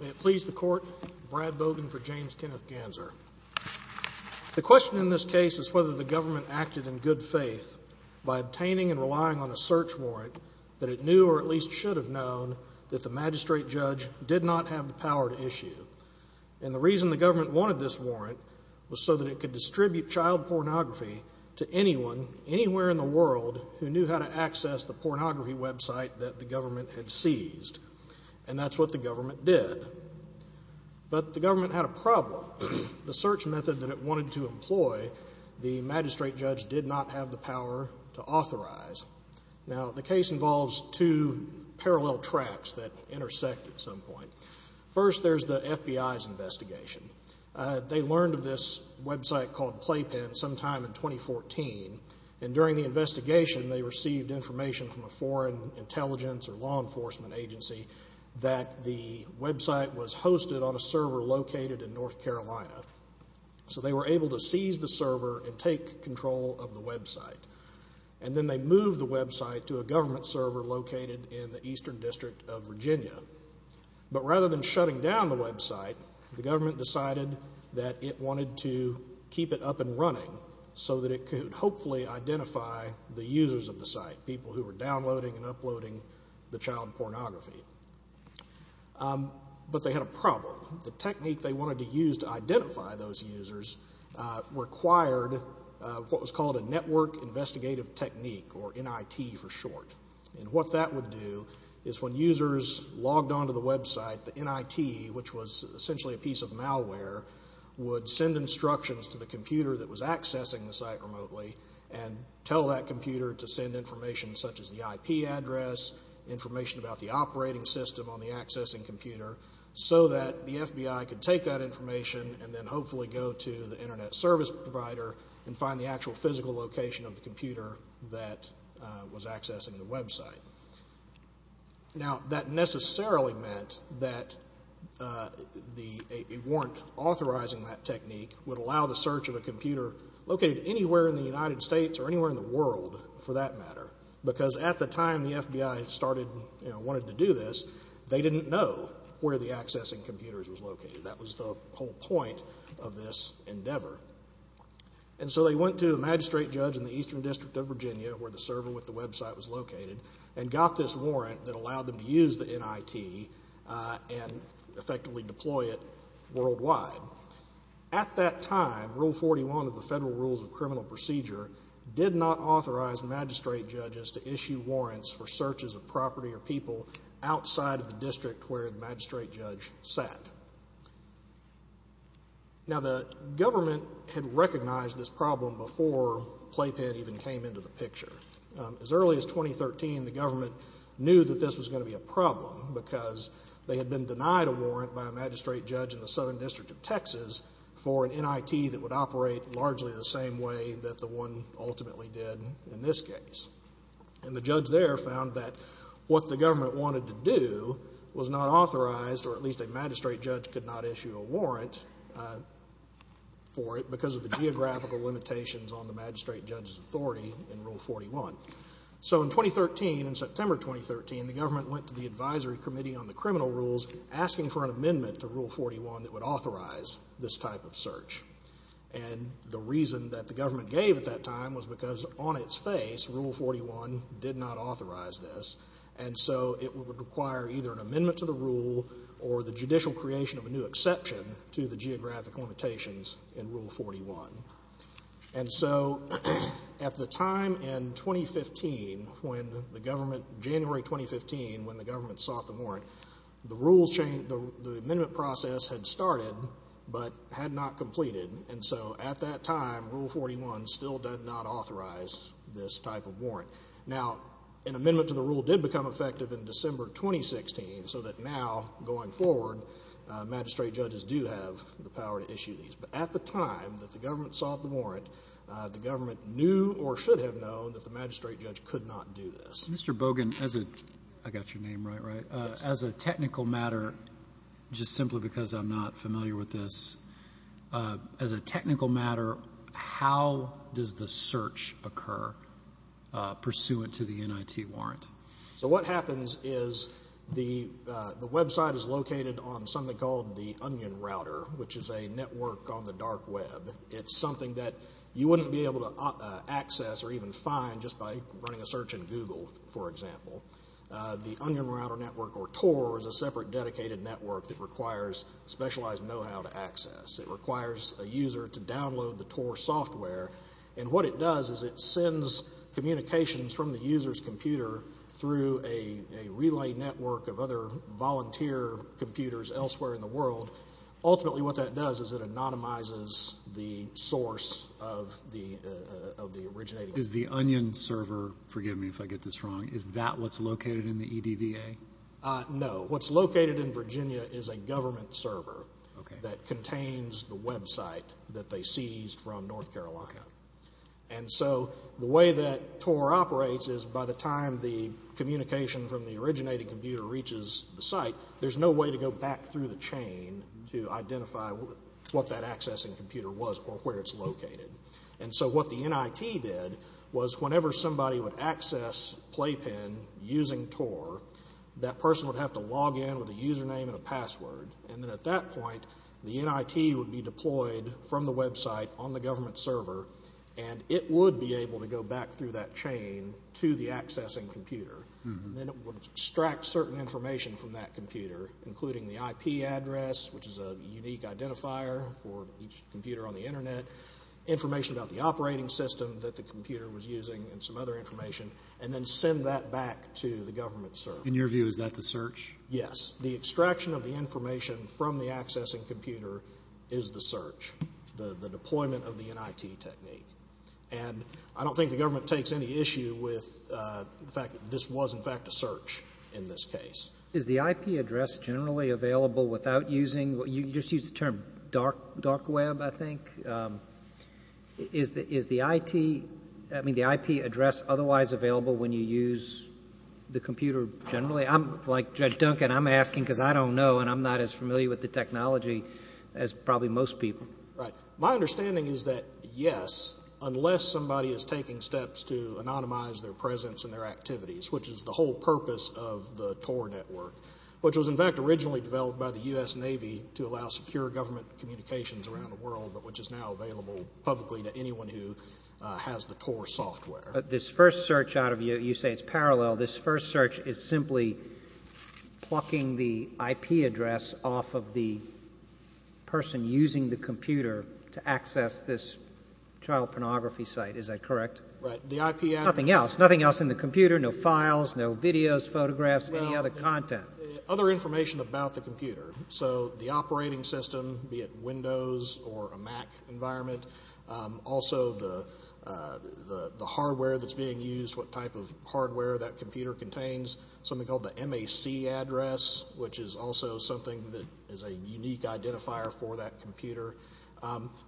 May it please the Court, Brad Bogan for James Kenneth Ganzer. The question in this case is whether the government acted in good faith by obtaining and relying on a search warrant that it knew, or at least should have known, that the magistrate judge did not have the power to issue. And the reason the government wanted this warrant was so that it could distribute child pornography to anyone, anywhere in the world, who knew how to access the pornography website that the government had seized. And that's what the government did. But the government had a problem. The search method that it wanted to employ, the magistrate judge did not have the power to authorize. Now the case involves two parallel tracks that intersect at some point. First there's the FBI's investigation. They learned of this website called Playpen sometime in 2014. And during the investigation they received information from a foreign intelligence or law enforcement agency that the website was hosted on a server located in North Carolina. So they were able to seize the server and take control of the website. And then they moved the website to a government server located in the Eastern District of Virginia. But rather than shutting down the website, the government decided that it wanted to keep it up and running so that it could hopefully identify the users of the site, people who were downloading and uploading the child pornography. But they had a problem. The technique they wanted to use to identify those users required what was called a network investigative technique, or NIT for short. And what that would do is when users logged onto the website, the NIT, which was essentially a piece of malware, would send instructions to the computer that was accessing the site remotely and tell that computer to send information such as the IP address, information about the operating system on the accessing computer, so that the FBI could take that information and then hopefully go to the internet service provider and find the actual physical location of the computer that was accessing the website. Now that necessarily meant that it weren't authorizing that technique would allow the search of a computer located anywhere in the United States or anywhere in the world, for that matter, because at the time the FBI wanted to do this, they didn't know where the accessing computer was located. That was the whole point of this endeavor. And so they went to a magistrate judge in the eastern district of Virginia, where the server with the website was located, and got this warrant that allowed them to use the NIT and effectively deploy it worldwide. At that time, Rule 41 of the Federal Rules of Criminal Procedure did not authorize magistrate judges to issue warrants for searches of property or people outside of the district where the magistrate judge sat. Now, the government had recognized this problem before playpen even came into the picture. As early as 2013, the government knew that this was going to be a problem, because they had been denied a warrant by a magistrate judge in the southern district of Texas for an NIT that would operate largely the same way that the one ultimately did in this case. And the judge there found that what the government wanted to do was not authorized, or at least a magistrate judge could not issue a warrant for it because of the geographical limitations on the magistrate judge's authority in Rule 41. So in 2013, in September 2013, the government went to the Advisory Committee on the Criminal Rules asking for an amendment to Rule 41 that would authorize this type of search. And the reason that the government gave at that time was because on its face, Rule 41 did not authorize this. And so it would require either an amendment to the rule or the judicial creation of a new exception to the geographic limitations in Rule 41. And so at the time in 2015, when the government, January 2015, when the government sought the warrant, the rules changed, the amendment process had started, but had not completed. And so at that time, Rule 41 still did not authorize this type of warrant. Now, an amendment to the rule did become effective in December 2016, so that now, going forward, magistrate judges do have the power to issue these. But at the time that the government sought the warrant, the government knew or should have known that the magistrate judge could not do this. Mr. Bogan, as a — I got your name right, right? As a technical matter, just simply because I'm not familiar with this, as a technical matter, how does the search occur pursuant to the NIT warrant? So what happens is the website is located on something called the Onion Router, which is a network on the dark web. It's something that you wouldn't be able to access or even find just by running a search in Google, for example. The Onion Router network, or TOR, is a separate dedicated network that requires specialized know-how to access. It requires a user to download the TOR software, and what it does is it sends communications from the user's computer through a relay network of other volunteer computers elsewhere in the world. Ultimately, what that does is it anonymizes the source of the originating — Is the Onion server — forgive me if I get this wrong — is that what's located in the EDVA? No. What's located in Virginia is a government server that contains the website that they seized from North Carolina. And so the way that TOR operates is by the time the communication from the originating computer reaches the site, there's no way to go back through the chain to identify what that accessing computer was or where it's located. And so what the NIT did was whenever somebody would access Playpen using TOR, that person would have to log in with a username and a password, and then at that point, the NIT would be deployed from the website on the government server, and it would be able to go back through that chain to the accessing computer, and then it would extract certain information from that computer, including the IP address, which is a unique identifier for each computer on the Internet, information about the operating system that the computer was using, and some other information, and then send that back to the government server. In your view, is that the search? Yes. The extraction of the information from the accessing computer is the search, the deployment of the NIT technique. And I don't think the government takes any issue with the fact that this was, in fact, a search in this case. Is the IP address generally available without using — you just used the term dark web, I think. Is the IP address otherwise available when you use the computer generally? Like Judge Duncan, I'm asking because I don't know, and I'm not as familiar with the technology as probably most people. Right. My understanding is that yes, unless somebody is taking steps to anonymize their presence and their activities, which is the whole purpose of the TOR network, which was, in fact, originally developed by the U.S. Navy to allow secure government communications around the world, but which is now available publicly to anyone who has the TOR software. This first search out of — you say it's parallel. This first search is simply plucking the IP address off of the person using the computer to access this child pornography site. Is that correct? Right. The IP address — Nothing else. Nothing else in the computer. No files, no videos, photographs, any other content. Other information about the computer. So the operating system, be it Windows or a Mac environment, also the hardware that's being used, what type of hardware that computer contains, something called the MAC address, which is also something that is a unique identifier for that computer.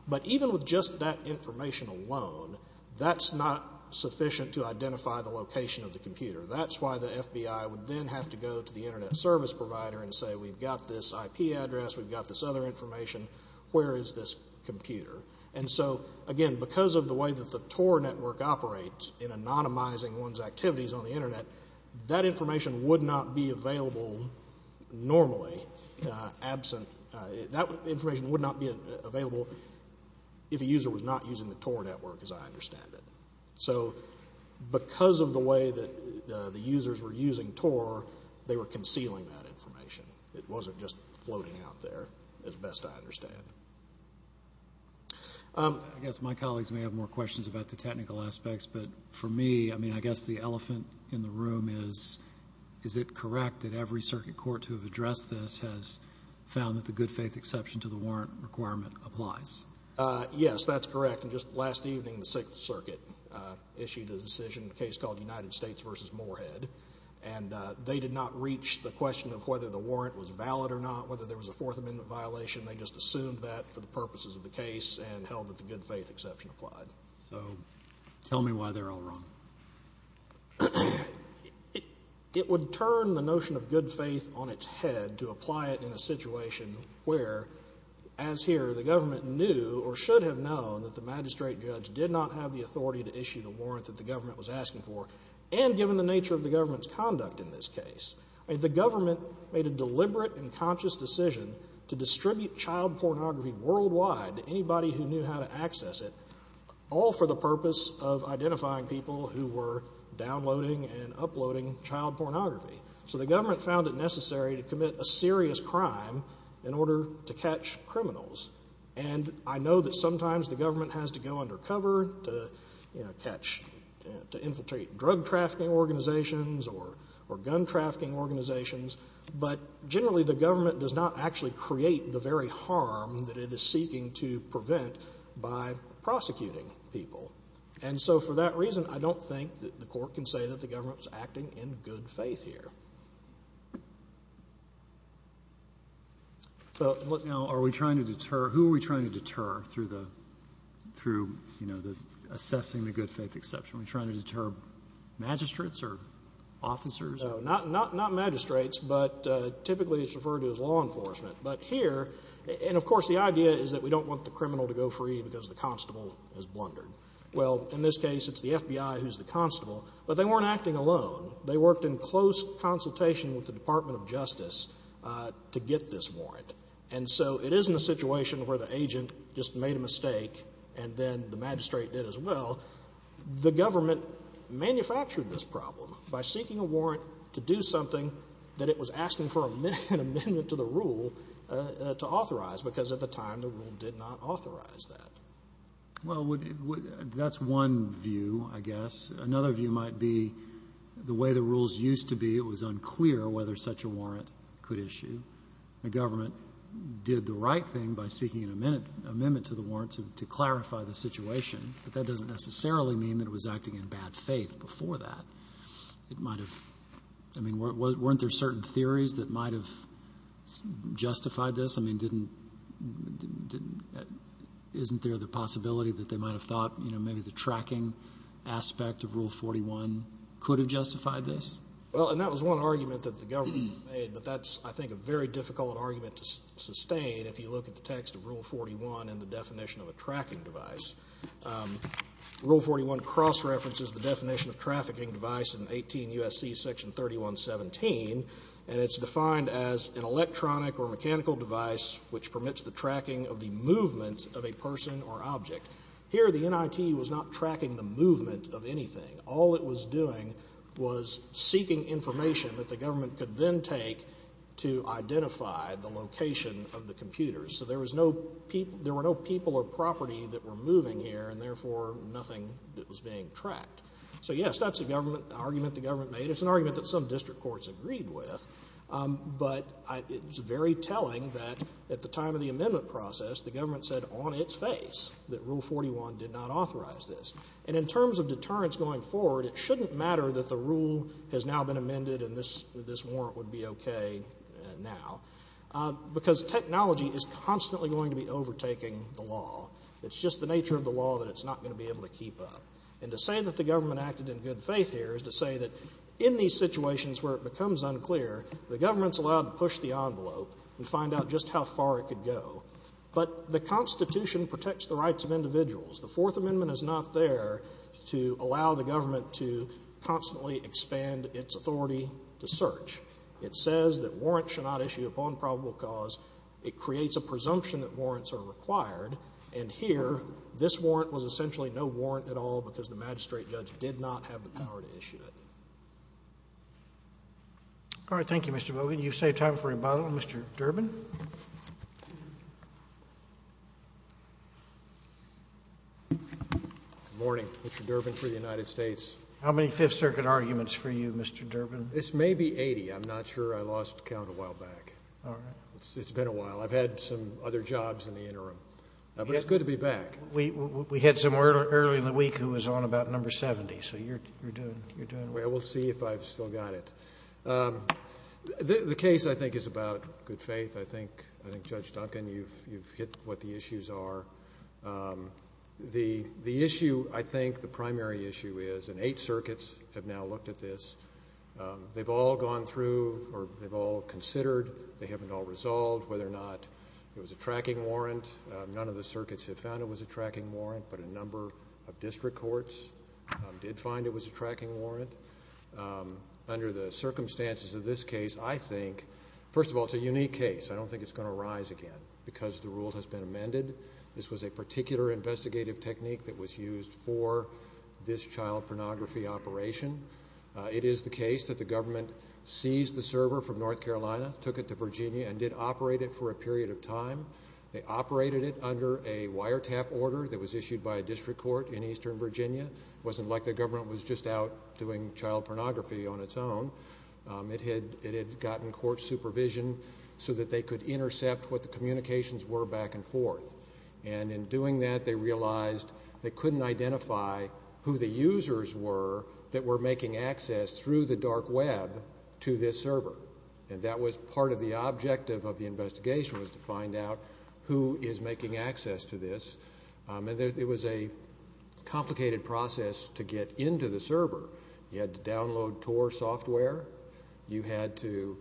But even with just that information alone, that's not sufficient to identify the location of the computer. That's why the FBI would then have to go to the internet service provider and say, we've got this IP address, we've got this other information, where is this computer? And so, again, because of the way that the TOR network operates in anonymizing one's activities on the internet, that information would not be available normally, absent — that information would not be available if a user was not using the TOR network, as I understand it. So because of the way that the users were using TOR, they were concealing that information. It wasn't just floating out there, as best I understand. I guess my colleagues may have more questions about the technical aspects, but for me, I mean, I guess the elephant in the room is, is it correct that every circuit court to have addressed this has found that the good faith exception to the warrant requirement applies? Yes, that's correct. And just last evening, the Sixth Circuit issued a decision, a case called United States v. Moorhead, and they did not reach the question of whether the warrant was valid or not, whether there was a Fourth Amendment violation. They just assumed that for the purposes of the case and held that the good faith exception applied. So tell me why they're all wrong. It would turn the notion of good faith on its head to apply it in a situation where, as here, the government knew or should have known that the magistrate judge did not have the authority to issue the warrant that the government was asking for. And given the nature of the government's conduct in this case, I mean, the government made a deliberate and conscious decision to distribute child pornography worldwide to anybody who knew how to access it, all for the purpose of identifying people who were downloading and uploading child pornography. So the government found it necessary to commit a serious crime in order to catch criminals. And I know that sometimes the government has to go undercover to, you know, catch to infiltrate drug trafficking organizations or gun trafficking organizations. But generally, the government does not actually create the very harm that it is seeking to prevent by prosecuting people. And so for that reason, I don't think that the Court can say that the government is acting in good faith here. So, look, now, are we trying to deter — who are we trying to deter through the — through, you know, the assessing the good faith exception? Are we trying to deter magistrates or officers? No. Not magistrates, but typically it's referred to as law enforcement. But here — and, of course, the idea is that we don't want the criminal to go free because the constable has blundered. Well, in this case, it's the FBI who's the constable. But they weren't acting alone. They worked in close consultation with the Department of Justice to get this warrant. And so it isn't a situation where the agent just made a mistake and then the magistrate did as well. The government manufactured this problem by seeking a warrant to do something that it was asking for an amendment to the rule to authorize, because at the time the rule did not authorize that. Well, that's one view, I guess. Another view might be the way the rules used to be, it was unclear whether such a warrant could issue. The government did the right thing by seeking an amendment to the warrant to clarify the situation. But that doesn't necessarily mean that it was acting in bad faith before that. It might have — I mean, weren't there certain theories that might have justified this? I mean, didn't — isn't there the possibility that they might have thought, you know, maybe the tracking aspect of Rule 41 could have justified this? Well, and that was one argument that the government made, but that's, I think, a very difficult argument to sustain if you look at the text of Rule 41 and the definition of a tracking device. Rule 41 cross-references the definition of trafficking device in 18 U.S.C. Section 3117, and it's defined as an electronic or mechanical device which permits the tracking of the movement of a person or object. Here, the NIT was not tracking the movement of anything. All it was doing was seeking information that the government could then take to identify the location of the computer. So there was no — there were no people or property that were moving here, and therefore nothing that was being tracked. So yes, that's an argument the government made. It's an argument that some district courts agreed with. But it's very telling that at the time of the amendment process, the government said on its face that Rule 41 did not authorize this. And in terms of deterrence going forward, it shouldn't matter that the rule has now been amended and this — this warrant would be okay now, because technology is constantly going to be overtaking the law. It's just the nature of the law that it's not going to be able to keep up. And to say that the government acted in good faith here is to say that in these situations where it becomes unclear, the government's allowed to push the envelope and find out just how far it could go. But the Constitution protects the rights of individuals. The Fourth Amendment is not there to allow the government to constantly expand its authority to search. It says that warrants should not issue upon probable cause. It creates a presumption that warrants are required. And here, this warrant was essentially no warrant at all because the magistrate judge did not have the power to issue it. All right. Thank you, Mr. Bogan. You've saved time for rebuttal. Mr. Durbin? Good morning. Mr. Durbin for the United States. How many Fifth Circuit arguments for you, Mr. Durbin? This may be 80. I'm not sure. I lost count a while back. All right. It's been a while. I've had some other jobs in the interim. But it's good to be back. We had some earlier in the week who was on about number 70. So you're doing — you're doing well. I will see if I've still got it. The case, I think, is about good faith. I think — I think, Judge Duncan, you've hit what the issues are. The issue, I think, the primary issue is — and eight circuits have now looked at this — they've all gone through or they've all considered, they haven't all resolved, whether or not it was a tracking warrant. None of the circuits have found it was a tracking warrant, but a number of Under the circumstances of this case, I think — first of all, it's a unique case. I don't think it's going to rise again because the rule has been amended. This was a particular investigative technique that was used for this child pornography operation. It is the case that the government seized the server from North Carolina, took it to Virginia, and did operate it for a period of time. They operated it under a wiretap order that was issued by a district court in eastern Virginia. It wasn't like the government was just out doing child pornography on its own. It had gotten court supervision so that they could intercept what the communications were back and forth. And in doing that, they realized they couldn't identify who the users were that were making access through the dark web to this server. And that was part of the objective of the investigation, was to find out who is making access to this. And it was a complicated process to get into the server. You had to download Tor software. You had to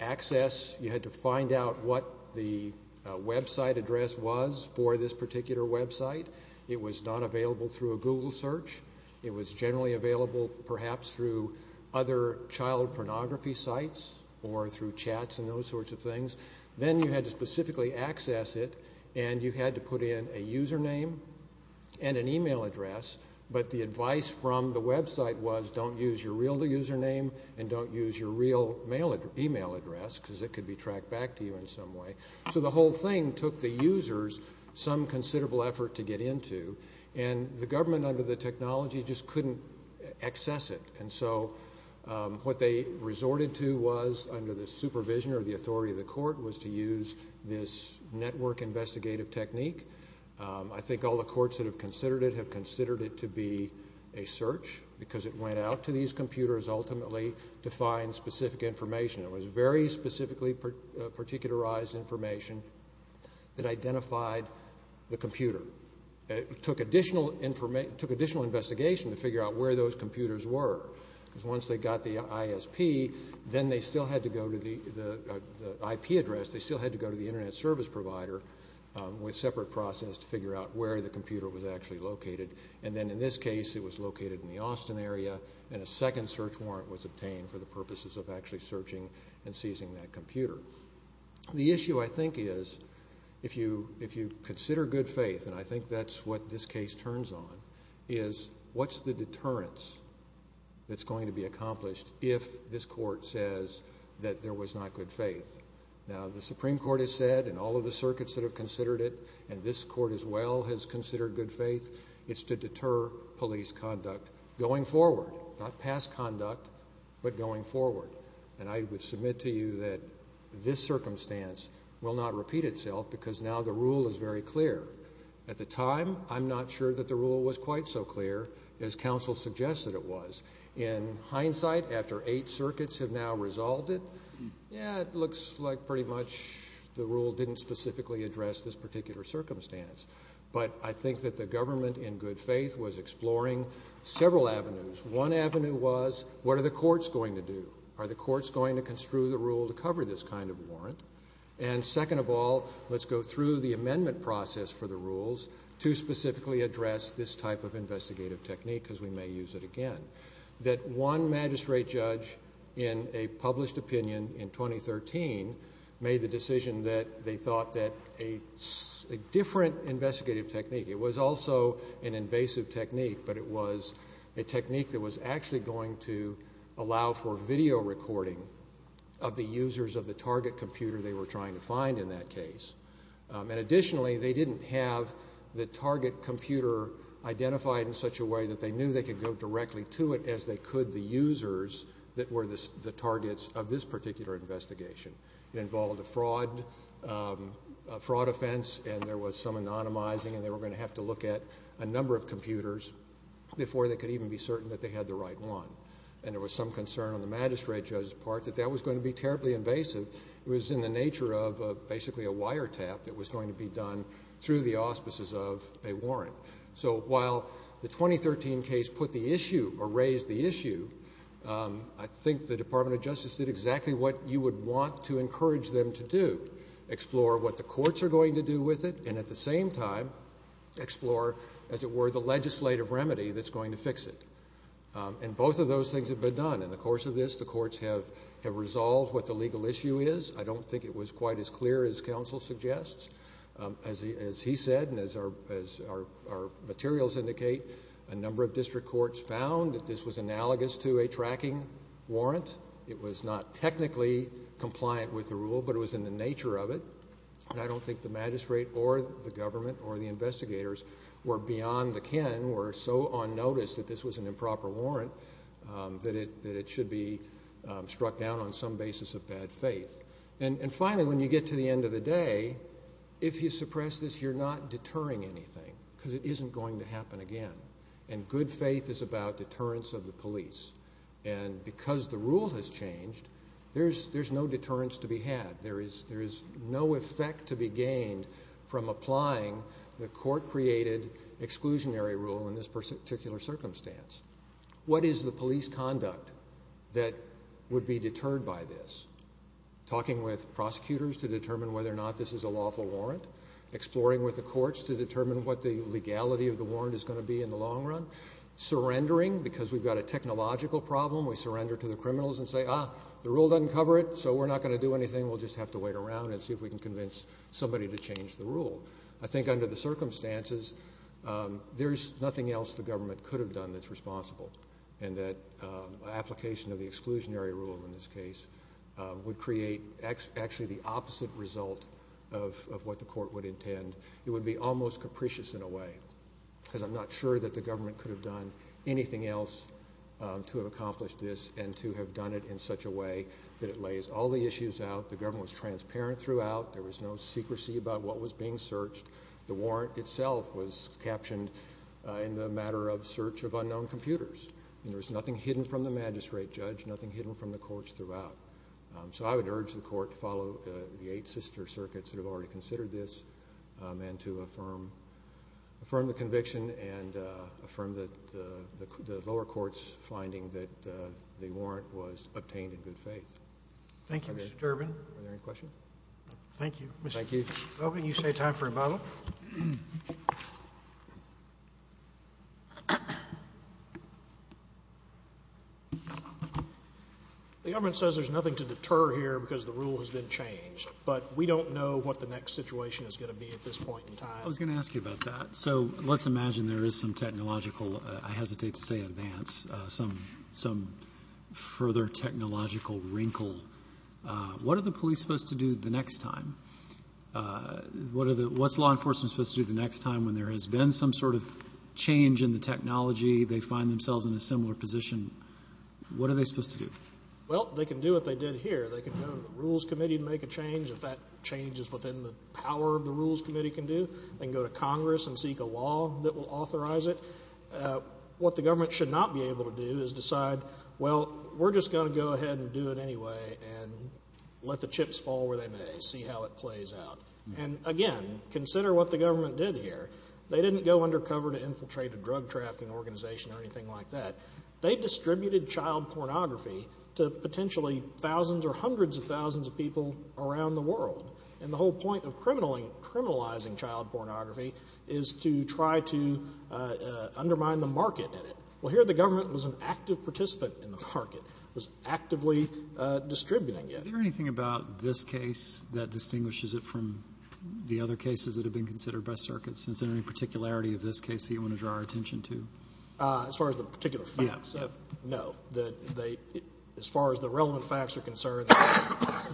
access — you had to find out what the website address was for this particular website. It was not available through a Google search. It was generally available perhaps through other child pornography sites or through chats and those sorts of things. Then you had to specifically access it, and you had to put in a username and an email address. But the advice from the website was, don't use your real username and don't use your real email address, because it could be tracked back to you in some way. So the whole thing took the users some considerable effort to get into. And the government, under the technology, just couldn't access it. And so what they resorted to was, under the supervision or the authority of the court, was to use this network investigative technique. I think all the courts that have considered it have considered it to be a search, because it went out to these computers ultimately to find specific information. It was very specifically particularized information that identified the computer. It took additional investigation to figure out where those computers were, because once they got the ISP, then they still had to go to the IP address. They still had to go to the internet service provider with separate process to figure out where the computer was actually located. And then in this case, it was located in the Austin area, and a second search warrant was obtained for the purposes of actually searching and seizing that computer. The issue, I think, is if you consider good faith, and I think that's what this case turns on, is what's the deterrence that's going to be accomplished if this court says that there was not good faith? Now, the Supreme Court has said, and all of the circuits that have considered it, and this court as well has considered good faith, it's to deter police conduct going forward, not past conduct, but going forward. And I would submit to you that this circumstance will not repeat itself, because now the rule is very clear. At the time, I'm not sure that the rule was quite so clear as counsel suggested it was. In hindsight, after eight circuits have now resolved it, yeah, it looks like pretty much the rule didn't specifically address this particular circumstance. But I think that the government, in good faith, was exploring several avenues. One avenue was, what are the courts going to do? Are the courts going to construe the rule to cover this kind of warrant? And second of all, let's go through the amendment process for the rules to specifically address this type of investigative technique, because we may use it again, that one magistrate judge in a published opinion in 2013 made the decision that they thought that a different investigative technique, it was also an invasive technique, but it was a technique that was actually going to allow video recording of the users of the target computer they were trying to find in that case. And additionally, they didn't have the target computer identified in such a way that they knew they could go directly to it as they could the users that were the targets of this particular investigation. It involved a fraud offense, and there was some anonymizing, and they were going to have to look at a number of computers before they could even be certain that they had the right one. And there was some concern on the magistrate judge's part that that was going to be terribly invasive. It was in the nature of basically a wiretap that was going to be done through the auspices of a warrant. So while the 2013 case put the issue or raised the issue, I think the Department of Justice did exactly what you would want to encourage them to do, explore what the courts are going to do with it, and at the same time, explore, as it were, the legislative remedy that's going to fix it. And both of those things have been done. In the course of this, the courts have resolved what the legal issue is. I don't think it was quite as clear as counsel suggests. As he said, and as our materials indicate, a number of district courts found that this was analogous to a tracking warrant. It was not technically compliant with the rule, but it was in the nature of it. And I don't think the magistrate or the government or the investigators were beyond the kin or so on notice that this was an improper warrant that it should be struck down on some basis of bad faith. And finally, when you get to the end of the day, if you suppress this, you're not deterring anything because it isn't going to happen again. And good faith is about deterrence of the police. And because the rule has changed, there's no deterrence to be had. There is no effect to be gained from applying the court created exclusionary rule in this particular circumstance. What is the police conduct that would be deterred by this? Talking with prosecutors to determine whether or not this is a lawful warrant. Exploring with the courts to determine what the legality of the warrant is going to be in the long run. Surrendering because we've got a technological problem. We surrender to the criminals and say, ah, the rule doesn't cover it, so we're not going to do anything. We'll just have to wait around and see if we can convince somebody to change the rule. I think under the circumstances, there's nothing else the government could have done that's responsible and that application of the exclusionary rule in this case would create actually the opposite result of what the court would intend. It would be almost capricious in a way because I'm not sure that the government could have done anything else to accomplish this and to have done it in such a way that it lays all the issues out. The government was transparent throughout. There was no secrecy about what was being searched. The warrant itself was captioned in the matter of search of unknown computers. And there was nothing hidden from the magistrate judge, nothing hidden from the courts throughout. So I would urge the court to follow the eight sister circuits that have already considered this and to affirm the conviction and affirm the lower court's finding that the warrant was obtained in good faith. Thank you, Mr. Durbin. Are there any questions? Thank you. Mr. Durbin, you say time for rebuttal. The government says there's nothing to deter here because the rule has been changed. But we don't know what the next situation is going to be at this point in time. I was going to ask you about that. So let's imagine there is some technological, I hesitate to say advance, some further technological wrinkle. What are the police supposed to do the next time? What's law enforcement supposed to do the next time when there has been some sort of change in the technology, they find themselves in a similar position? What are they supposed to do? Well, they can do what they did here. They can go to the rules committee and make a change. If that change is within the power of the rules committee can do, they can go to Congress and seek a law that will authorize it. What the government should not be able to do is decide, well, we're just going to go with it anyway and let the chips fall where they may, see how it plays out. And again, consider what the government did here. They didn't go undercover to infiltrate a drug trafficking organization or anything like that. They distributed child pornography to potentially thousands or hundreds of thousands of people around the world. And the whole point of criminalizing child pornography is to try to undermine the market Well, here the government was an active participant in the market. It was actively distributing it. Is there anything about this case that distinguishes it from the other cases that have been considered by circuits? Is there any particularity of this case that you want to draw our attention to? As far as the particular facts, no. As far as the relevant facts are concerned, the facts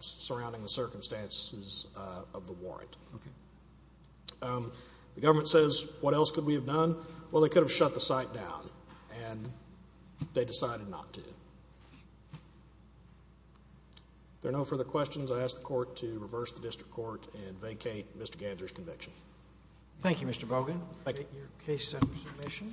surrounding the circumstances of the warrant. Okay. The government says, what else could we have done? Well, they could have shut the site down, and they decided not to. If there are no further questions, I ask the court to reverse the district court and vacate Mr. Gadger's conviction. Thank you, Mr. Bogan. Thank you. Your case is under submission.